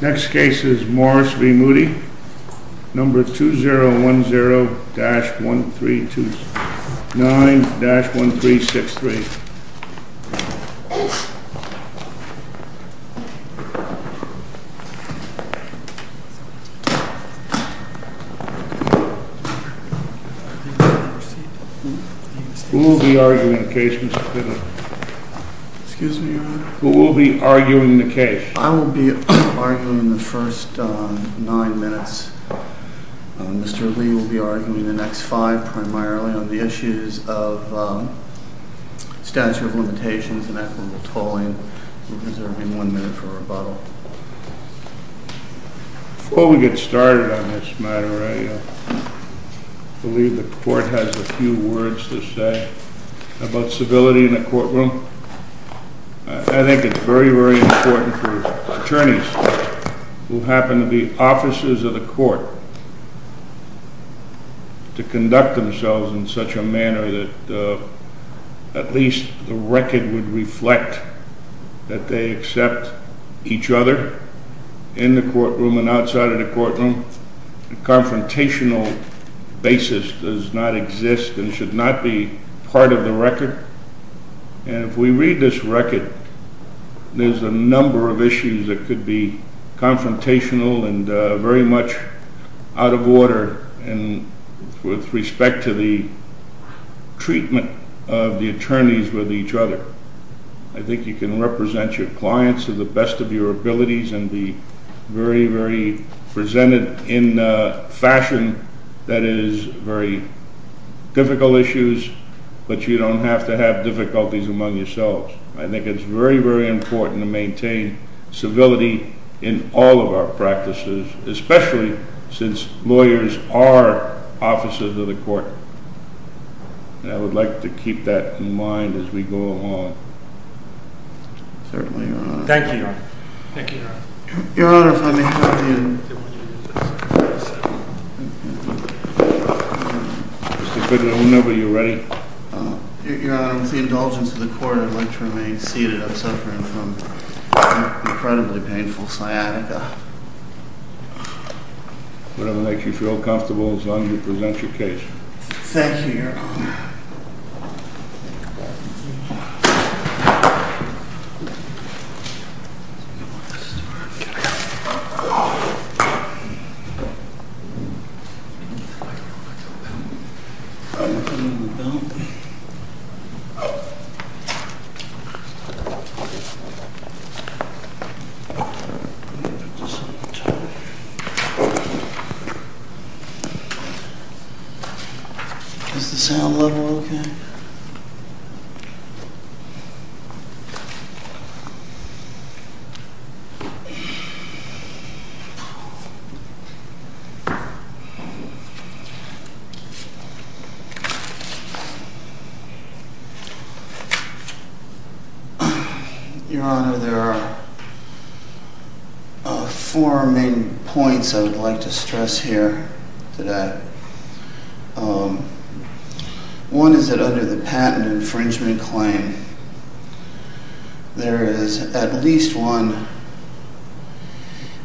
Next case is MORRIS v. MOODY, number 2010-1329-1363. Who will be arguing the case, Mr. Pittman? I will be arguing the first nine minutes. Mr. Lee will be arguing the next five primarily on the issues of statute of limitations and equitable tolling. We're reserving one minute for rebuttal. Before we get started on this matter, I believe the court has a few words to say about civility in a courtroom. I think it's very, very important for attorneys who happen to be officers of the court to conduct themselves in such a manner that at least the record would reflect that they accept each other in the courtroom and outside of the courtroom. No confrontational basis does not exist and should not be part of the record. And if we read this record, there's a number of issues that could be confrontational and very much out of order with respect to the treatment of the attorneys with each other. I think you can represent your clients to the best of your abilities and be very, very presented in a fashion that is very difficult issues, but you don't have to have difficulties among yourselves. I think it's very, very important to maintain civility in all of our practices, especially since lawyers are officers of the court. And I would like to keep that in mind as we go along. Certainly, Your Honor. Thank you, Your Honor. Thank you, Your Honor. Your Honor, if I may have you. Mr. Pittman, whenever you're ready. Your Honor, with the indulgence of the court, I'd like to remain seated. I'm suffering from incredibly painful sciatica. Whatever makes you feel comfortable is on you to present your case. Thank you, Your Honor. Is the sound level okay? Your Honor, there are four main points I would like to stress here today. One is that under the patent infringement claim, there is at least one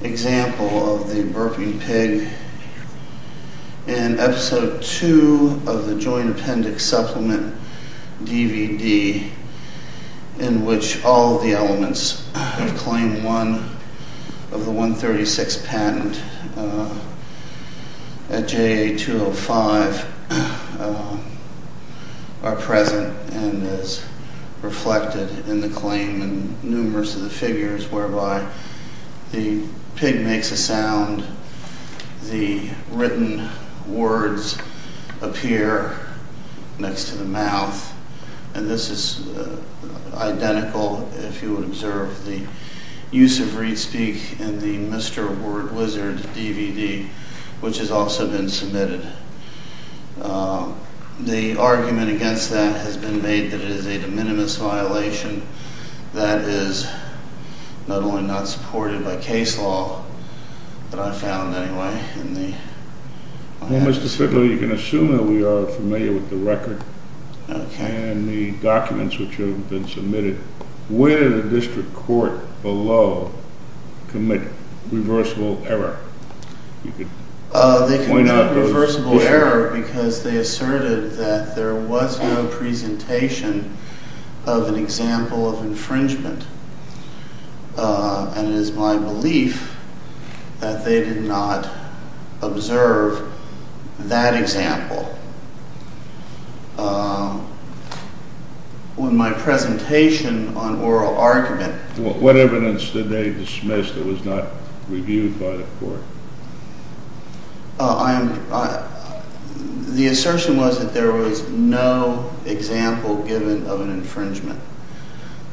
example of the burping pig in Episode 2 of the Joint Appendix Supplement DVD, in which all of the elements of Claim 1 of the 136th Patent at JA 205 are present and is reflected in the claim in numerous of the figures whereby the pig makes a sound, and the written words appear next to the mouth. And this is identical, if you would observe the use of read-speak in the Mr. Word Wizard DVD, which has also been submitted. The argument against that has been made that it is a de minimis violation that is not only not supported by case law, but I found anyway. Well, Mr. Fitlow, you can assume that we are familiar with the record and the documents which have been submitted. Where did the district court below commit reversible error? They committed reversible error because they asserted that there was no presentation of an example of infringement, and it is my belief that they did not observe that example. What evidence did they dismiss that was not reviewed by the court? The assertion was that there was no example given of an infringement,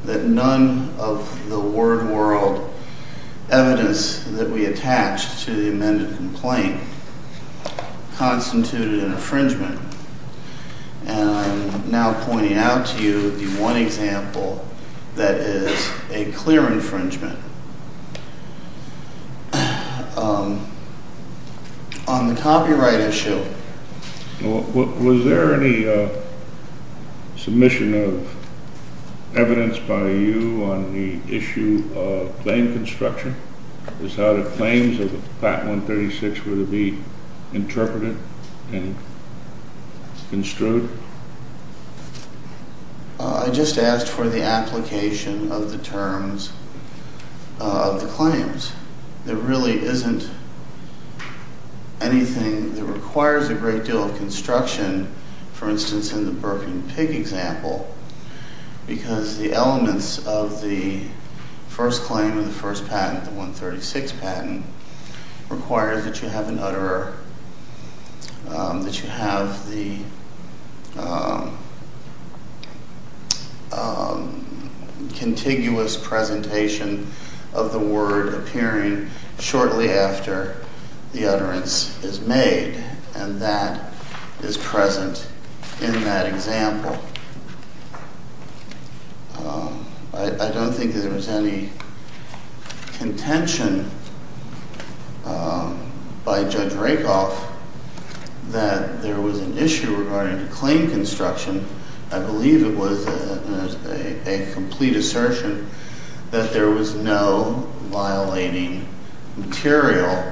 that none of the word-world evidence that we attached to the amended complaint constituted an infringement, and I am now pointing out to you the one example that is a clear infringement. On the copyright issue, was there any submission of evidence by you on the issue of claim construction? Is how the claims of the Patent 136 were to be interpreted and construed? I just asked for the application of the terms of the claims. There really isn't anything that requires a great deal of construction, for instance, in the Birkin-Pig example, because the elements of the first claim of the first patent, the 136 patent, requires that you have an utterer, that you have the contiguous presentation of the word appearing shortly after the utterance is made, and that is present in that example. I don't think there was any contention by Judge Rakoff that there was an issue regarding claim construction. I believe it was a complete assertion that there was no violating material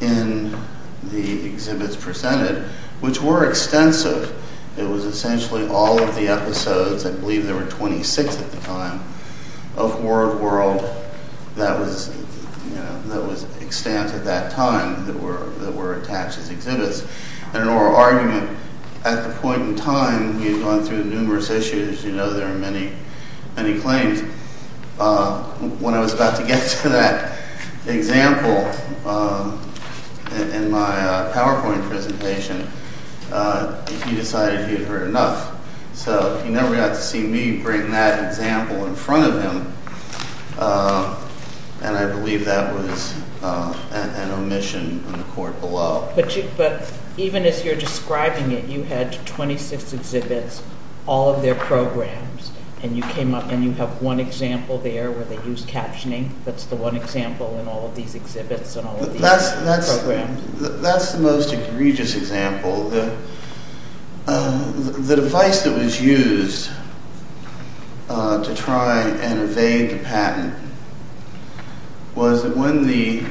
in the exhibits presented, which were extensive. It was essentially all of the episodes, I believe there were 26 at the time, of word-world that was extant at that time that were attached as exhibits. In an oral argument, at the point in time, we had gone through numerous issues. You know there are many, many claims. When I was about to get to that example in my PowerPoint presentation, he decided he had heard enough. So he never got to see me bring that example in front of him, and I believe that was an omission in the court below. But even as you're describing it, you had 26 exhibits, all of their programs, and you came up and you have one example there where they used captioning. That's the one example in all of these exhibits and all of these programs. That's the most egregious example. The device that was used to try and evade the patent was that when the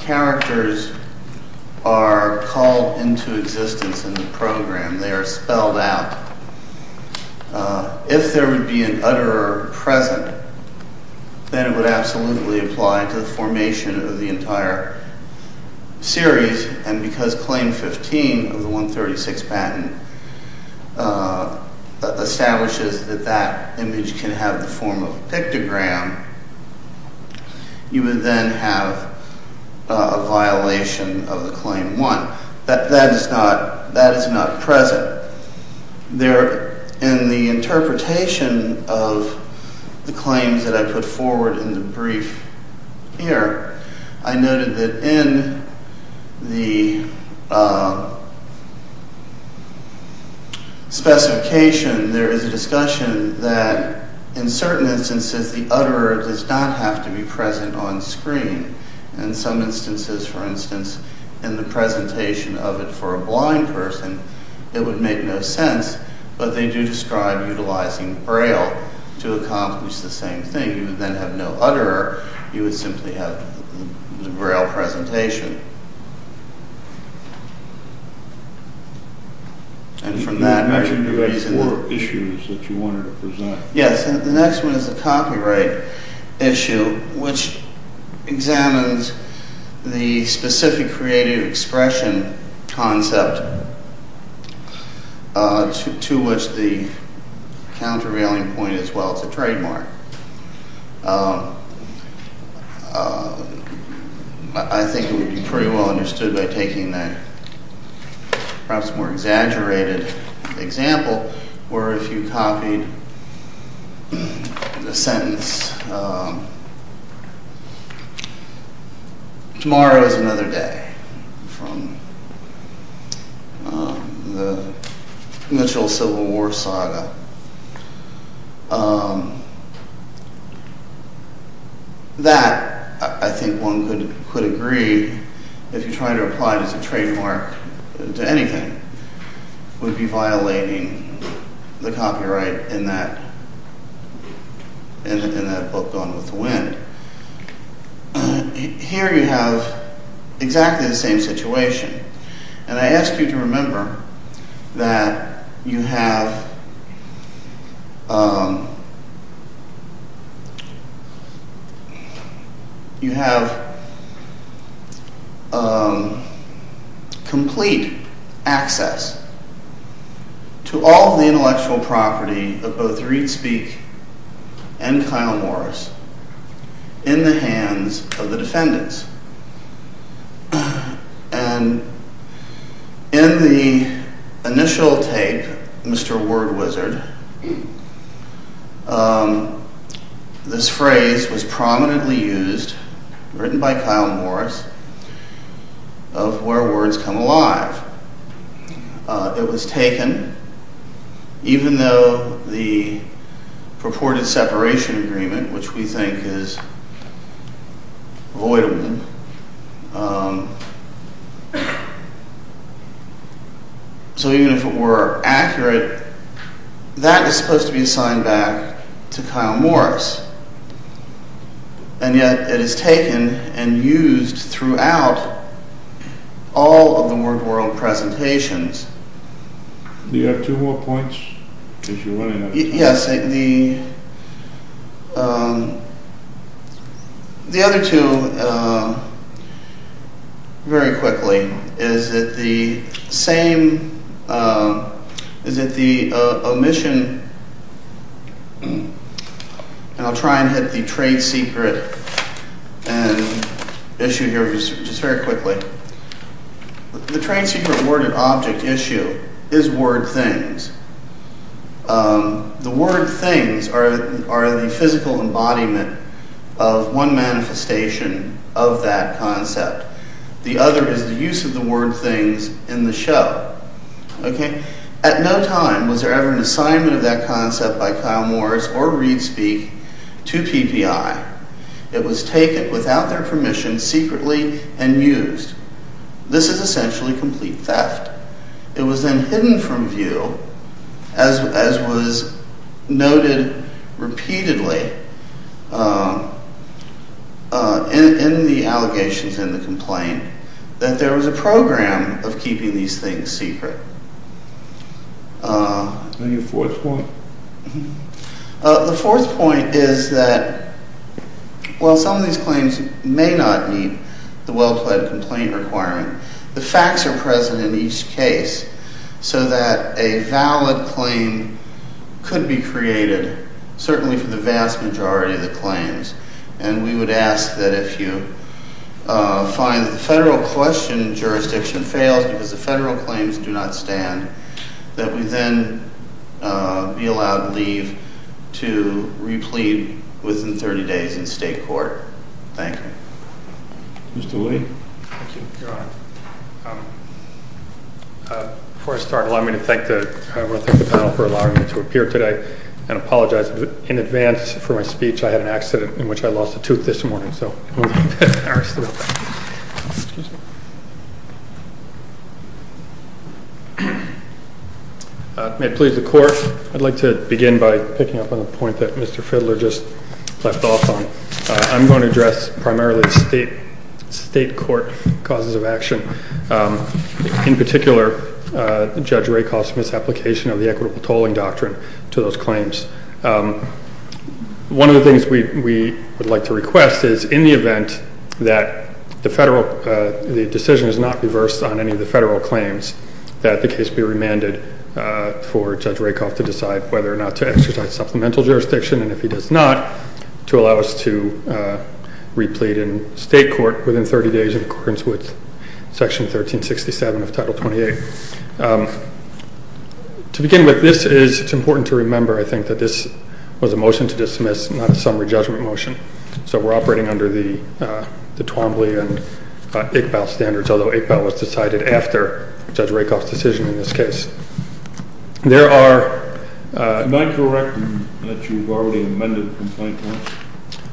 characters are called into existence in the program, they are spelled out. If there would be an utterer present, then it would absolutely apply to the formation of the entire series, and because Claim 15 of the 136th Patent establishes that that image can have the form of a pictogram, you would then have a violation of the Claim 1. Now, that is not present. In the interpretation of the claims that I put forward in the brief here, I noted that in the specification there is a discussion that in certain instances the utterer does not have to be present on screen. In some instances, for instance, in the presentation of it for a blind person, it would make no sense, but they do describe utilizing Braille to accomplish the same thing. You would then have no utterer. You would simply have the Braille presentation. And from that… You mentioned there were four issues that you wanted to present. Yes, the next one is the copyright issue, which examines the specific creative expression concept to which the countervailing point is well-to-trademark. I think it would be pretty well understood by taking that perhaps more exaggerated example, where if you copied the sentence, tomorrow is another day, from the Mitchell Civil War saga. That, I think one could agree, if you're trying to apply it as a trademark to anything, would be violating the copyright in that book, Gone with the Wind. Here you have exactly the same situation. And I ask you to remember that you have… You have complete access to all of the intellectual property of both Reed Speak and Kyle Morris in the hands of the defendants. And in the initial tape, Mr. Word Wizard, this phrase was prominently used, written by Kyle Morris, of where words come alive. It was taken even though the purported separation agreement, which we think is avoidable. So even if it were accurate, that is supposed to be assigned back to Kyle Morris. And yet it is taken and used throughout all of the Word World presentations. Do you have two more points? Yes, the other two, very quickly, is that the same… Is that the omission… And I'll try and hit the trade secret issue here just very quickly. The trade secret word and object issue is word things. The word things are the physical embodiment of one manifestation of that concept. The other is the use of the word things in the show. At no time was there ever an assignment of that concept by Kyle Morris or Reed Speak to PPI. It was taken without their permission, secretly, and used. This is essentially complete theft. It was then hidden from view, as was noted repeatedly in the allegations in the complaint, that there was a program of keeping these things secret. And your fourth point? The fourth point is that while some of these claims may not meet the well-pled complaint requirement, the facts are present in each case, so that a valid claim could be created, certainly for the vast majority of the claims. And we would ask that if you find that the federal question jurisdiction fails because the federal claims do not stand, that we then be allowed to leave to replete within 30 days in state court. Thank you. Mr. Lee? Thank you, Your Honor. Before I start, I want to thank the panel for allowing me to appear today and apologize in advance for my speech. I had an accident in which I lost a tooth this morning. May it please the Court, I'd like to begin by picking up on a point that Mr. Fidler just left off on. I'm going to address primarily state court causes of action, in particular Judge Rakoff's misapplication of the equitable tolling doctrine to those claims. One of the things we would like to request is, in the event that the decision is not reversed on any of the federal claims, that the case be remanded for Judge Rakoff to decide whether or not to exercise supplemental jurisdiction, and if he does not, to allow us to replete in state court within 30 days in accordance with Section 1367 of Title 28. To begin with, it's important to remember that this was a motion to dismiss, not a summary judgment motion, so we're operating under the Twombly and Iqbal standards, although Iqbal was decided after Judge Rakoff's decision in this case. Am I correct in that you've already amended the complaint once?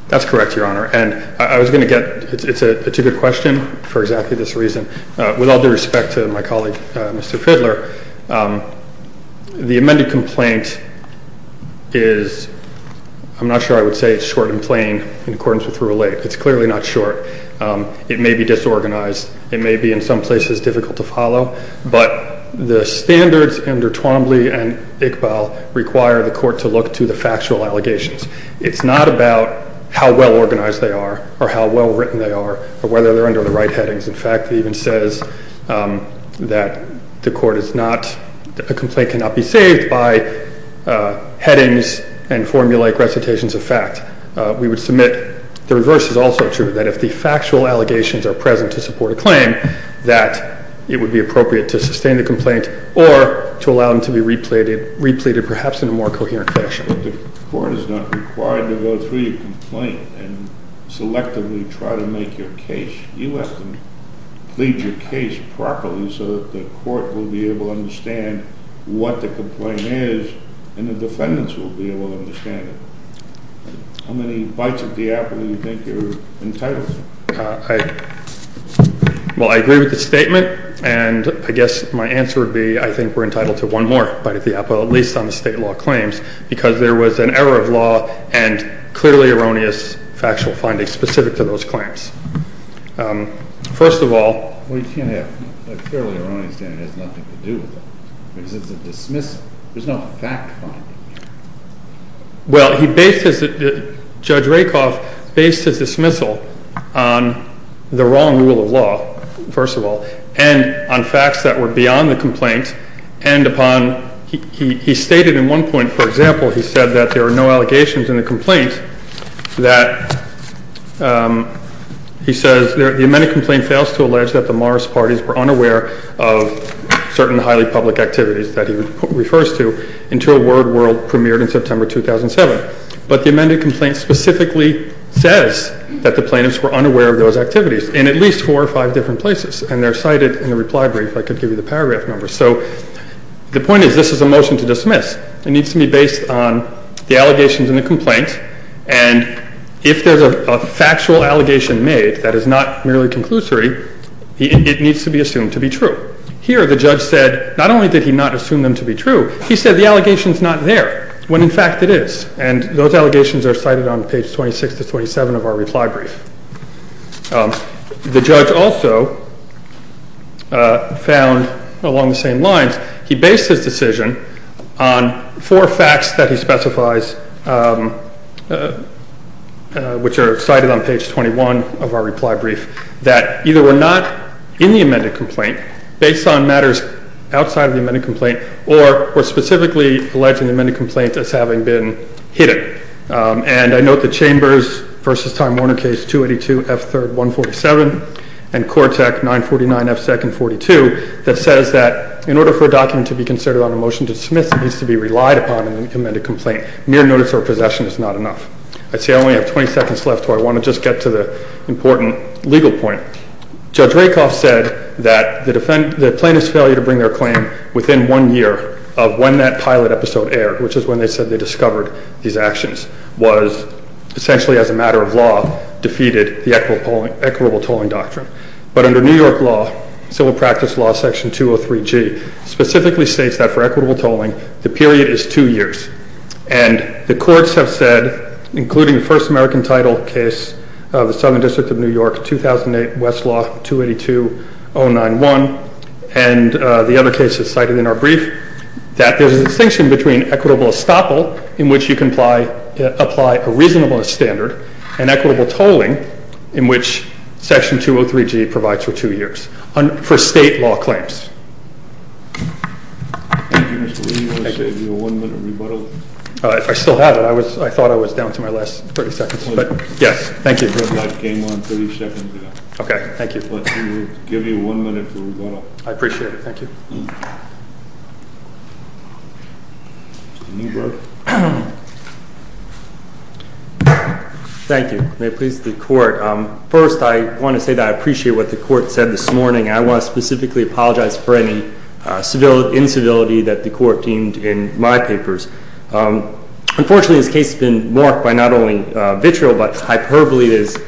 That's correct, Your Honor. It's a good question for exactly this reason. With all due respect to my colleague, Mr. Fidler, the amended complaint is, I'm not sure I would say it's short and plain, in accordance with Rule 8. It's clearly not short. It may be disorganized. It may be in some places difficult to follow, but the standards under Twombly and Iqbal require the court to look to the factual allegations. It's not about how well organized they are or how well written they are or whether they're under the right headings. In fact, it even says that the court is not, a complaint cannot be saved by headings and formulaic recitations of fact. We would submit the reverse is also true, that if the factual allegations are present to support a claim, that it would be appropriate to sustain the complaint or to allow them to be repleted perhaps in a more coherent fashion. The court is not required to go through your complaint and selectively try to make your case. You have to plead your case properly so that the court will be able to understand what the complaint is and the defendants will be able to understand it. How many bites of the apple do you think you're entitled to? Well, I agree with the statement and I guess my answer would be I think we're entitled to one more bite of the apple, at least on the state law claims, because there was an error of law and clearly erroneous factual findings specific to those claims. First of all... Well, you can't have a fairly erroneous statement that has nothing to do with it, because it's a dismissal. There's no fact finding here. Well, Judge Rakoff based his dismissal on the wrong rule of law, first of all, and on facts that were beyond the complaint, and upon, he stated in one point, for example, he said that there are no allegations in the complaint that he says the amended complaint fails to allege that the Morris parties were unaware of certain highly public activities that he refers to until Word World premiered in September 2007. But the amended complaint specifically says that the plaintiffs were unaware of those activities in at least four or five different places, and they're cited in the reply brief. I could give you the paragraph number. So the point is this is a motion to dismiss. It needs to be based on the allegations in the complaint, and if there's a factual allegation made that is not merely conclusory, it needs to be assumed to be true. Here the judge said not only did he not assume them to be true, he said the allegation's not there, when in fact it is, and those allegations are cited on page 26 to 27 of our reply brief. The judge also found, along the same lines, that he based his decision on four facts that he specifies, which are cited on page 21 of our reply brief, that either were not in the amended complaint, based on matters outside of the amended complaint, or were specifically alleged in the amended complaint as having been hidden. And I note the Chambers v. Time Warner case 282 F. 3rd. 147 and Cortec 949 F. 2nd. 42 that says that in order for a document to be considered on a motion to dismiss, it needs to be relied upon in an amended complaint. Mere notice or possession is not enough. I see I only have 20 seconds left, so I want to just get to the important legal point. Judge Rakoff said that the plaintiff's failure to bring their claim within one year of when that pilot episode aired, which is when they said they discovered these actions, was essentially, as a matter of law, defeated the equitable tolling doctrine. But under New York law, Civil Practice Law Section 203G specifically states that for equitable tolling, the period is two years. And the courts have said, including the First American Title case of the Southern District of New York, 2008, Westlaw 282. 091, and the other cases cited in our brief, that there's a distinction between equitable estoppel, in which you can apply a reasonable standard, and equitable tolling, in which Section 203G provides for two years, for state law claims. Thank you, Mr. Lee. I'll save you a one-minute rebuttal. If I still have it, I thought I was down to my last 30 seconds. But yes, thank you. I came on 30 seconds ago. Okay, thank you. But we will give you one minute for rebuttal. I appreciate it. Thank you. Mr. Newberg. Thank you. May it please the Court. First, I want to say that I appreciate what the Court said this morning, and I want to specifically apologize for any incivility that the Court deemed in my papers. Unfortunately, this case has been marked by not only vitriol, but hyperbole that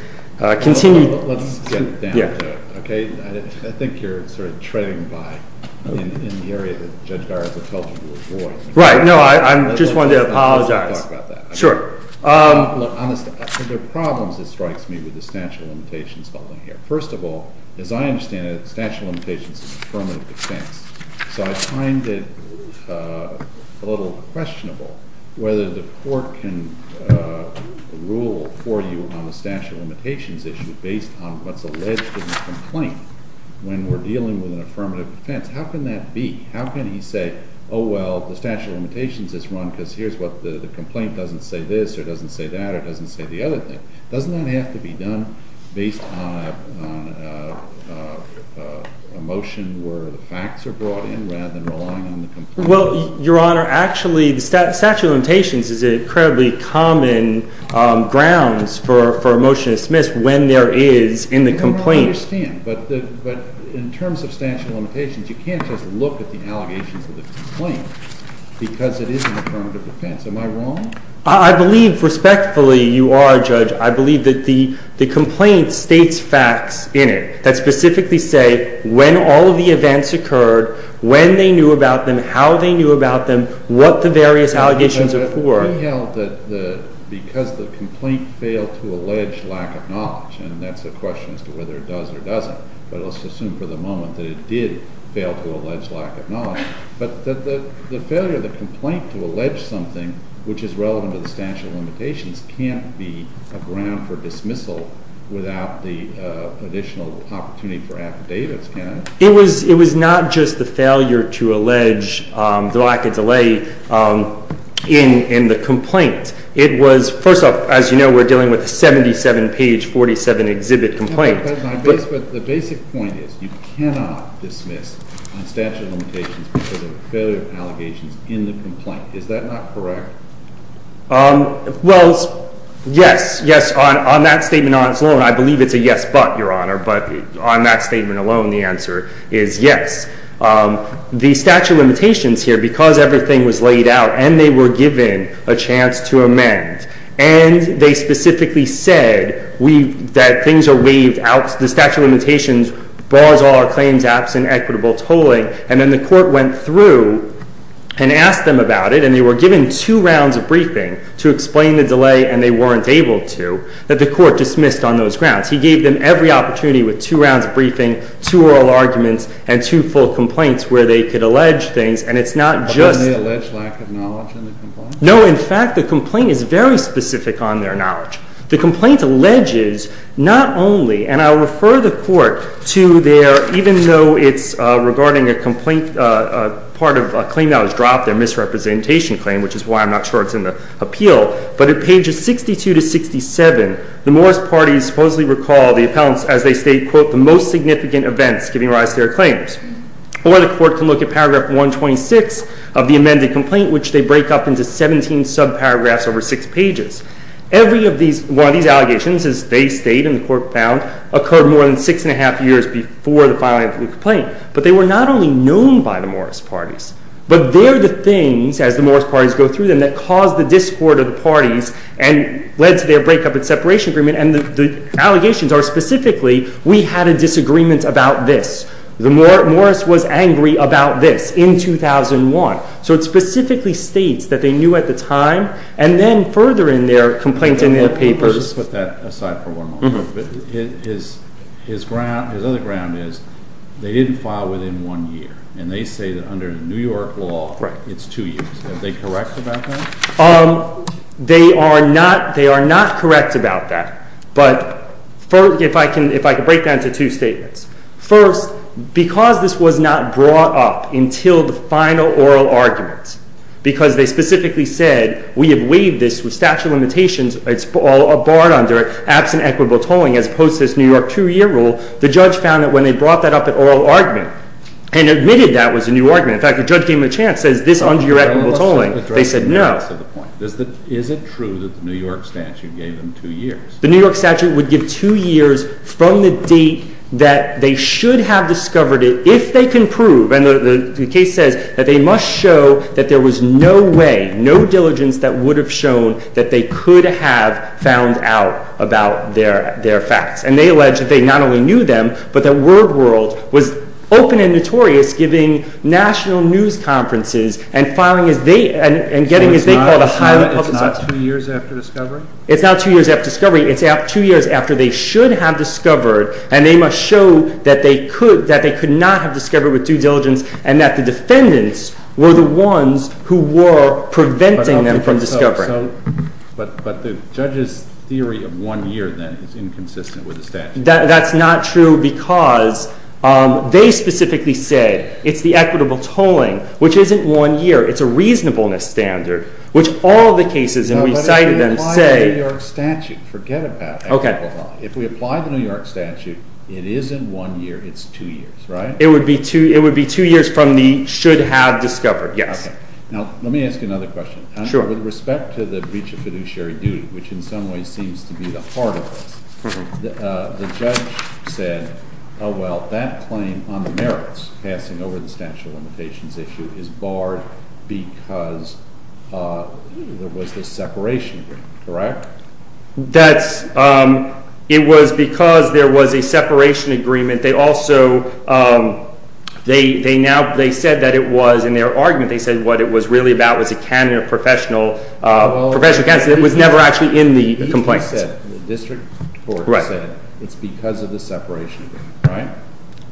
has continued... Let's get down to it, okay? I think you're sort of treading by in the area that Judge Garza tells you to avoid. Right. No, I just wanted to apologize. Let's talk about that. Sure. Look, there are problems that strikes me with the statute of limitations holding here. First of all, as I understand it, the statute of limitations is affirmative defense, so I find it a little questionable whether the Court can rule for you on the statute of limitations issue based on what's alleged in the complaint when we're dealing with an affirmative defense. How can that be? How can he say, oh, well, the statute of limitations is run because the complaint doesn't say this or doesn't say that or doesn't say the other thing? Doesn't that have to be done based on a motion where the facts are brought in rather than relying on the complaint? Well, Your Honor, actually the statute of limitations is an incredibly common grounds for a motion to dismiss when there is in the complaint... I understand, but in terms of statute of limitations, you can't just look at the allegations of the complaint because it is an affirmative defense. Am I wrong? I believe, respectfully, you are, Judge. I believe that the complaint states facts in it that specifically say when all of the events occurred, when they knew about them, how they knew about them, what the various allegations are for. We held that because the complaint failed to allege lack of knowledge, and that's a question as to whether it does or doesn't, but let's assume for the moment that it did fail to allege lack of knowledge, but the failure of the complaint to allege something which is relevant to the statute of limitations can't be a ground for dismissal without the additional opportunity for affidavits, can it? It was not just the failure to allege lack of delay in the complaint. It was, first off, as you know, we're dealing with a 77-page, 47-exhibit complaint. But the basic point is you cannot dismiss on statute of limitations because of failure of allegations in the complaint. Is that not correct? Well, yes, yes. On that statement on its own, I believe it's a yes, but, Your Honor, but on that statement alone, the answer is yes. The statute of limitations here, because everything was laid out and they were given a chance to amend, and they specifically said that things are waived out, the statute of limitations bars all our claims absent equitable tolling, and then the court went through and asked them about it, and they were given two rounds of briefing to explain the delay, and they weren't able to, that the court dismissed on those grounds. He gave them every opportunity with two rounds of briefing, two oral arguments, and two full complaints where they could allege things, and it's not just... But didn't they allege lack of knowledge in the complaint? No, in fact, the complaint is very specific on their knowledge. The complaint alleges not only, and I'll refer the court to their, even though it's regarding a complaint, part of a claim that was dropped, their misrepresentation claim, which is why I'm not sure it's in the appeal, but at pages 62 to 67, the Morris parties supposedly recall the appellants as they state, quote, the most significant events giving rise to their claims. Or the court can look at paragraph 126 of the amended complaint, which they break up into 17 subparagraphs over six pages. Every one of these allegations, as they state and the court found, occurred more than six and a half years before the filing of the complaint. But they were not only known by the Morris parties, but they're the things, as the Morris parties go through them, that caused the discord of the parties and led to their breakup and separation agreement, and the allegations are specifically, we had a disagreement about this. Morris was angry about this in 2001. So it specifically states that they knew at the time, and then further in their complaint in their papers... Let's leave that aside for one moment. His other ground is they didn't file within one year, and they say that under New York law, it's two years. Are they correct about that? They are not correct about that, but if I could break that into two statements. First, because this was not brought up until the final oral argument, because they specifically said, we have waived this statute of limitations, it's all barred under it, absent equitable tolling, as opposed to this New York two-year rule, the judge found that when they brought that up at oral argument, and admitted that was a new argument, in fact, the judge gave them a chance, says, is this under your equitable tolling? They said no. Is it true that the New York statute gave them two years? The New York statute would give two years from the date that they should have discovered it, if they can prove, and the case says, that they must show that there was no way, no diligence that would have shown that they could have found out about their facts. And they allege that they not only knew them, but that Word World was open and notorious, giving national news conferences, and getting what they called a highly publicized... So it's not two years after discovery? It's not two years after discovery, it's two years after they should have discovered, and they must show that they could not have discovered with due diligence, and that the defendants were the ones who were preventing them from discovering. But the judge's theory of one year, then, is inconsistent with the statute. That's not true, because they specifically said, it's the equitable tolling, which isn't one year, it's a reasonableness standard, which all the cases, and we cited them, say... But if we apply the New York statute, forget about equitable tolling, if we apply the New York statute, it isn't one year, it's two years, right? It would be two years from the should have discovered, yes. Now, let me ask you another question. Sure. With respect to the breach of fiduciary duty, which in some ways seems to be the heart of this, the judge said, oh well, that claim on the merits, passing over the statute of limitations issue, is barred because there was this separation agreement, correct? That's... It was because there was a separation agreement, they also... They said that it was, in their argument, they said what it was really about was a candidate, a professional, a professional candidate that was never actually in the complaint. The district court said it's because of the separation agreement, right?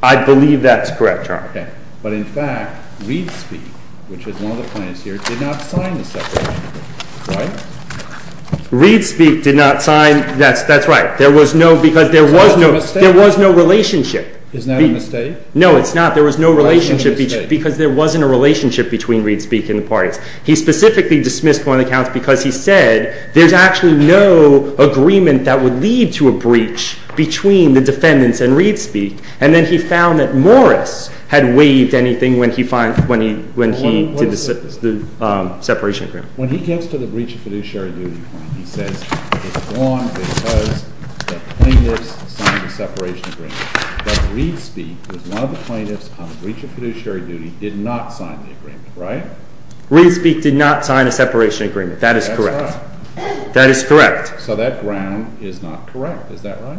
I believe that's correct, Your Honor. Okay. But in fact, ReadSpeak, which is one of the clients here, did not sign the separation agreement, right? ReadSpeak did not sign... That's right. There was no, because there was no... Is that a mistake? There was no relationship. Isn't that a mistake? No, it's not. There was no relationship, because there wasn't a relationship between ReadSpeak and the parties. He specifically dismissed one of the accounts because he said there's actually no agreement that would lead to a breach between the defendants and ReadSpeak, and then he found that Morris had waived anything when he did the separation agreement. When he gets to the breach of fiduciary duty, he says it's one because the plaintiffs signed the separation agreement, but ReadSpeak was one of the plaintiffs on the breach of fiduciary duty did not sign the agreement, right? ReadSpeak did not sign a separation agreement. That is correct. That's right. That is correct. So that ground is not correct. Is that right?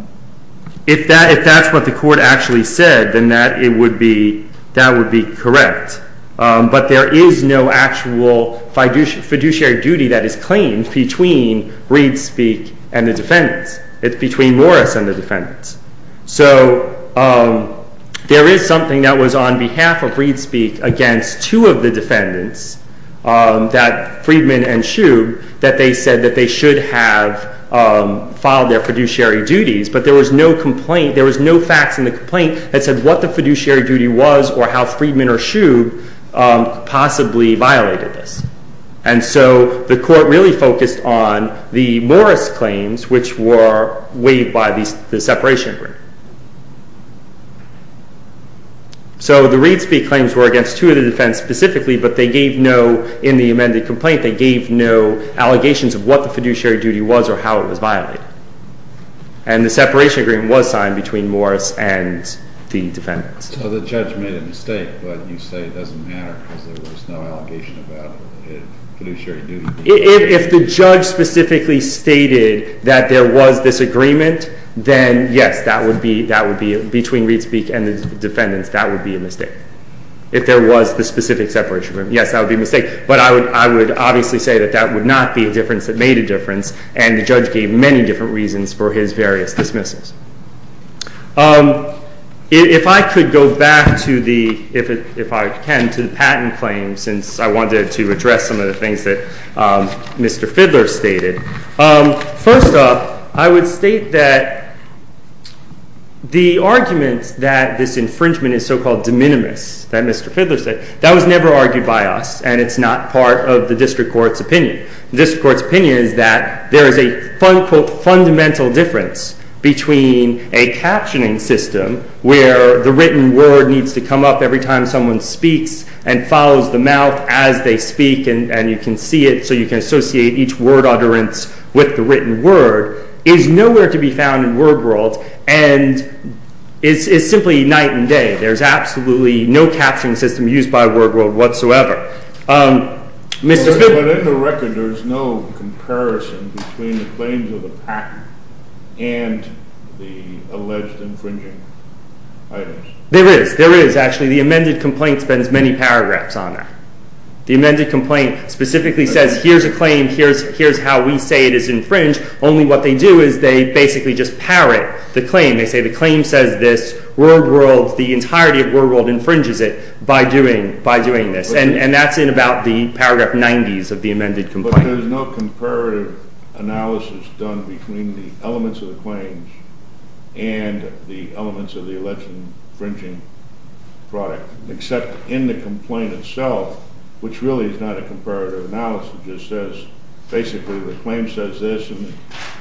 If that's what the court actually said, then that would be correct. But there is no actual fiduciary duty that is claimed between ReadSpeak and the defendants. It's between Morris and the defendants. So there is something that was on behalf of ReadSpeak against two of the defendants, Friedman and Shube, that they said that they should have filed their fiduciary duties, but there was no complaint, there was no facts in the complaint that said what the fiduciary duty was or how Friedman or Shube possibly violated this. And so the court really focused on the Morris claims, which were waived by the separation agreement. So the ReadSpeak claims were against two of the defendants specifically, but they gave no, in the amended complaint, they gave no allegations of what the fiduciary duty was or how it was violated. And the separation agreement was signed between Morris and the defendants. So the judge made a mistake, but you say it doesn't matter because there was no allegation about fiduciary duty. If the judge specifically stated that there was disagreement, then yes, that would be, between ReadSpeak and the defendants, that would be a mistake. If there was the specific separation agreement, yes, that would be a mistake. But I would obviously say that that would not be a difference that made a difference, and the judge gave many different reasons for his various dismissals. If I could go back to the, if I can, to the patent claims, since I wanted to address some of the things that Mr. Fidler stated. First off, I would state that the argument that this infringement is so-called de minimis, that Mr. Fidler said, that was never argued by us, and it's not part of the district court's opinion. The district court's opinion is that there is a, quote, fundamental difference between a captioning system where the written word needs to come up every time someone speaks and follows the mouth as they speak, and you can see it, so you can associate each word utterance with the written word, is nowhere to be found in WordWorld, and it's simply night and day. There's absolutely no captioning system used by WordWorld whatsoever. But in the record, there's no comparison between the claims of the patent and the alleged infringing items. There is, there is, actually. The amended complaint spends many paragraphs on that. The amended complaint specifically says, here's a claim, here's how we say it is infringed, only what they do is they basically just parrot the claim. They say the claim says this, WordWorld, the entirety of WordWorld infringes it by doing this, and that's in about the paragraph 90s of the amended complaint. But there's no comparative analysis done between the elements of the claims and the elements of the alleged infringing product, except in the complaint itself, which really is not a comparative analysis, it just says basically the claim says this and the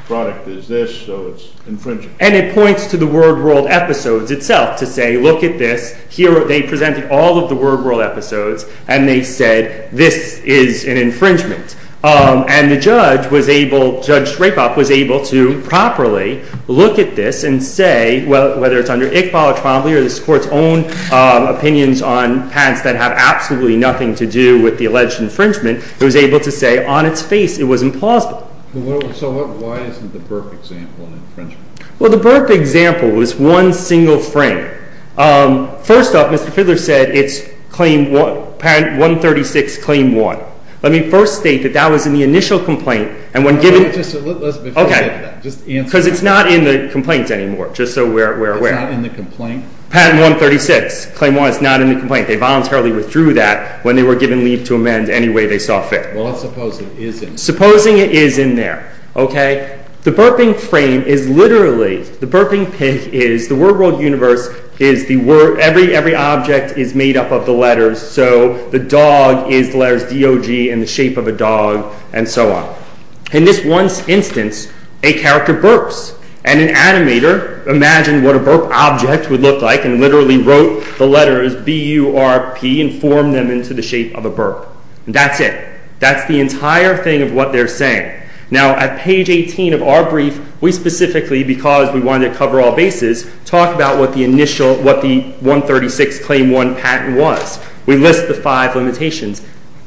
product is this, so it's infringed. And it points to the WordWorld episodes itself to say, look at this, here they presented all of the WordWorld episodes, and they said this is an infringement. And the judge was able, Judge Rapop, was able to properly look at this and say, whether it's under Iqbal or Trombley or this Court's own opinions on patents that have absolutely nothing to do with the alleged infringement, it was able to say on its face it was implausible. So why isn't the Burke example an infringement? Well, the Burke example was one single frame. First off, Mr. Fidler said it's claim 136, claim 1. Let me first state that that was in the initial complaint, and when given... Okay, because it's not in the complaint anymore, just so we're aware. It's not in the complaint? Patent 136, claim 1. It's not in the complaint. They voluntarily withdrew that when they were given leave to amend any way they saw fit. Well, let's suppose it is in there. Supposing it is in there, okay? The Burping frame is literally, the Burping pig is, the WordWorld universe is, every object is made up of the letters, so the dog is the letters D-O-G in the shape of a dog, and so on. In this one instance, a character burps, and an animator imagined what a burp object would look like and literally wrote the letters B-U-R-P and formed them into the shape of a burp. That's it. That's the entire thing of what they're saying. Now, at page 18 of our brief, we specifically, because we wanted to cover all bases, talk about what the initial, what the 136, claim 1 patent was. We list the five limitations.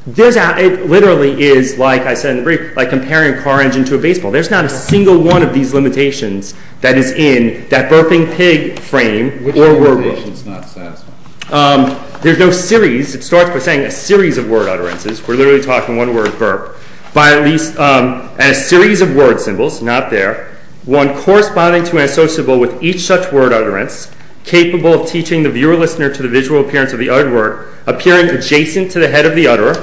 It literally is, like I said in the brief, like comparing a car engine to a baseball. There's not a single one of these limitations that is in that Burping pig frame or WordWorld. Which limitation is not satisfactory? There's no series. It starts by saying a series of word utterances. We're literally talking one word, burp. By at least a series of word symbols, not there, one corresponding to and associable with each such word utterance, capable of teaching the viewer-listener to the visual appearance of the other word, appearing adjacent to the head of the utterer,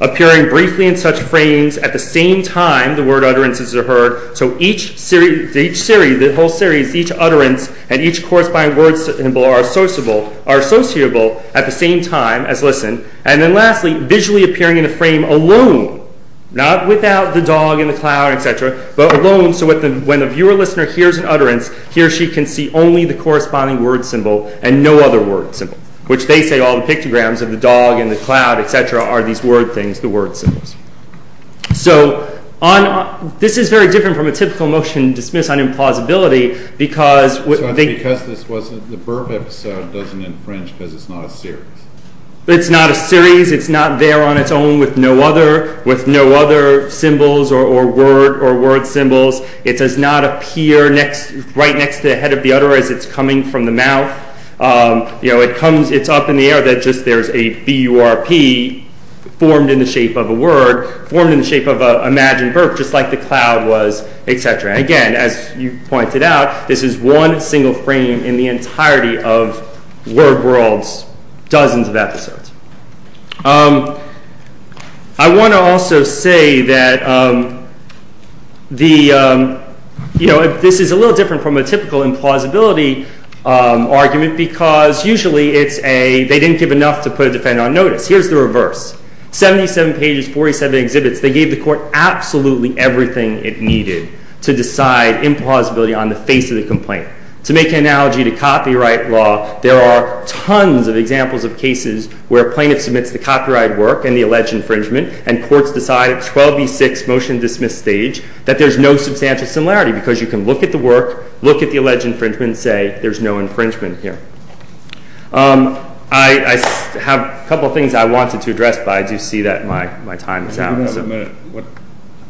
appearing briefly in such frames at the same time the word utterances are heard, so each series, the whole series, each utterance and each corresponding word symbol are associable at the same time as listened, and then lastly, visually appearing in a frame alone, not without the dog in the cloud, etc., but alone, so when the viewer-listener hears an utterance, he or she can see only the corresponding word symbol and no other word symbol, which they say all the pictograms of the dog and the cloud, etc., are these word things, the word symbols. So, this is very different from a typical motion dismissed on implausibility because... Because the burp episode doesn't infringe because it's not a series. It's not a series. It's not there on its own with no other symbols or word symbols. It does not appear right next to the head of the utterer as it's coming from the mouth. It's up in the air that just there's a B-U-R-P formed in the shape of a word, formed in the shape of an imagined burp, just like the cloud was, etc. Again, as you pointed out, this is one single frame in the entirety of WordWorld's dozens of episodes. I want to also say that this is a little different from a typical implausibility argument because usually they didn't give enough to put a defendant on notice. Here's the reverse. 77 pages, 47 exhibits, they gave the court absolutely everything it needed to decide implausibility on the face of the complaint. there are tons of examples of cases where a plaintiff submits the copyright work and the alleged infringement and courts decide at 12B6 motion dismiss stage that there's no substantial similarity because you can look at the work, look at the alleged infringement, and say there's no infringement here. I have a couple of things I wanted to address, but I do see that my time is out.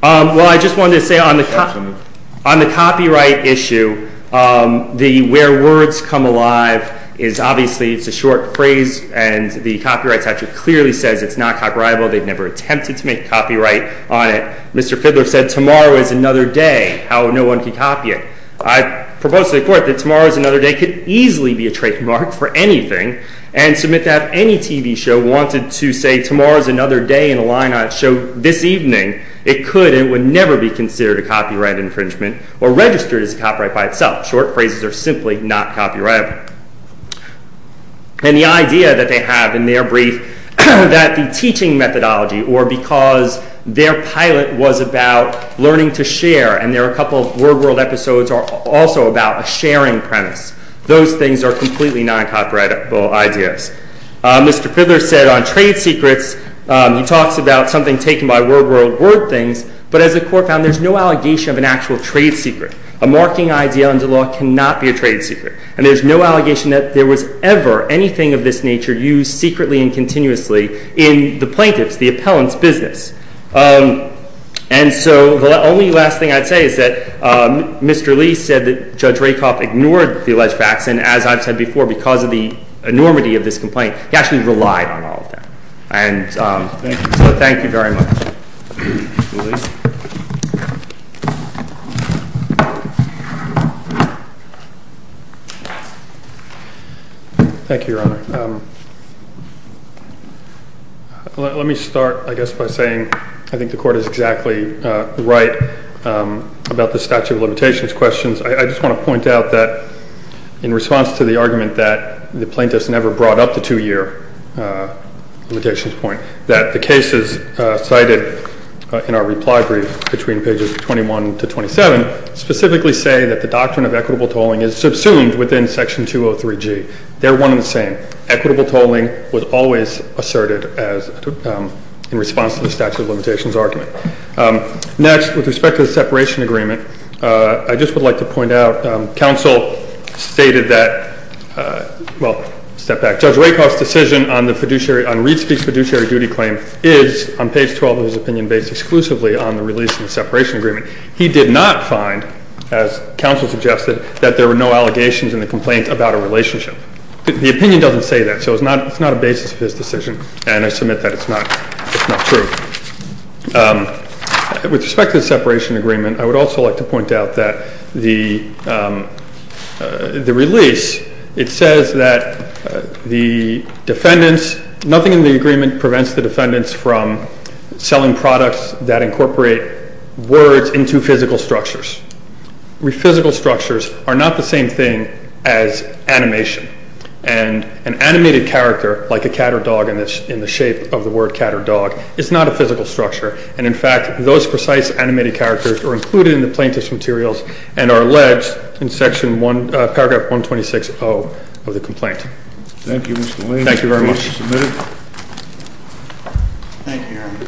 Well, I just wanted to say on the copyright issue, the where words come alive is obviously it's a short phrase and the copyright statute clearly says it's not copyrightable. They've never attempted to make copyright on it. Mr. Fidler said tomorrow is another day, how no one can copy it. I propose to the court that tomorrow is another day could easily be a trademark for anything and submit that if any TV show wanted to say tomorrow is another day in a line on a show this evening, it could and would never be considered a copyright infringement or registered as a copyright by itself. Short phrases are simply not copyrightable. And the idea that they have in their brief that the teaching methodology or because their pilot was about learning to share and there are a couple of word world episodes are also about a sharing premise. Those things are completely not copyrightable ideas. Mr. Fidler said on trade secrets, he talks about something taken by word world, word things, but as the court found, there's no allegation of an actual trade secret. A marking idea under law cannot be a trade secret and there's no allegation that there was ever anything of this nature used secretly and continuously in the plaintiff's, the appellant's business. And so the only last thing I'd say is that Mr. Lee said that Judge Rakoff ignored the alleged facts and as I've said before, because of the enormity of this complaint, he actually relied on all of that. And so thank you very much. Thank you, Your Honor. Let me start, I guess, by saying I think the court is exactly right about the statute of limitations questions. I just want to point out that in response to the argument that the plaintiffs never brought up the two-year limitations point, that the cases cited in our reply brief between pages 21 to 27 specifically say that the doctrine of equitable tolling is subsumed within Section 203G. They're one and the same. Equitable tolling was always asserted in response to the statute of limitations argument. Next, with respect to the separation agreement, I just would like to point out counsel stated that, well, step back, Judge Rakoff's decision on Reed Speaks fiduciary duty claim is, on page 12 of his opinion, based exclusively on the release of the separation agreement. He did not find, as counsel suggested, that there were no allegations in the complaint about a relationship. The opinion doesn't say that, so it's not a basis for this decision, and I submit that it's not true. With respect to the separation agreement, I would also like to point out that the release, it says that the defendants, nothing in the agreement prevents the defendants from selling products that incorporate words into physical structures. Physical structures are not the same thing as animation, and an animated character, like a cat or dog in the shape of the word cat or dog, is not a physical structure, and in fact, those precise animated characters are included in the plaintiff's materials and are alleged in paragraph 126.0 of the complaint. Thank you, Mr. Lane. Thank you very much. The case is submitted. Thank you, Your Honor.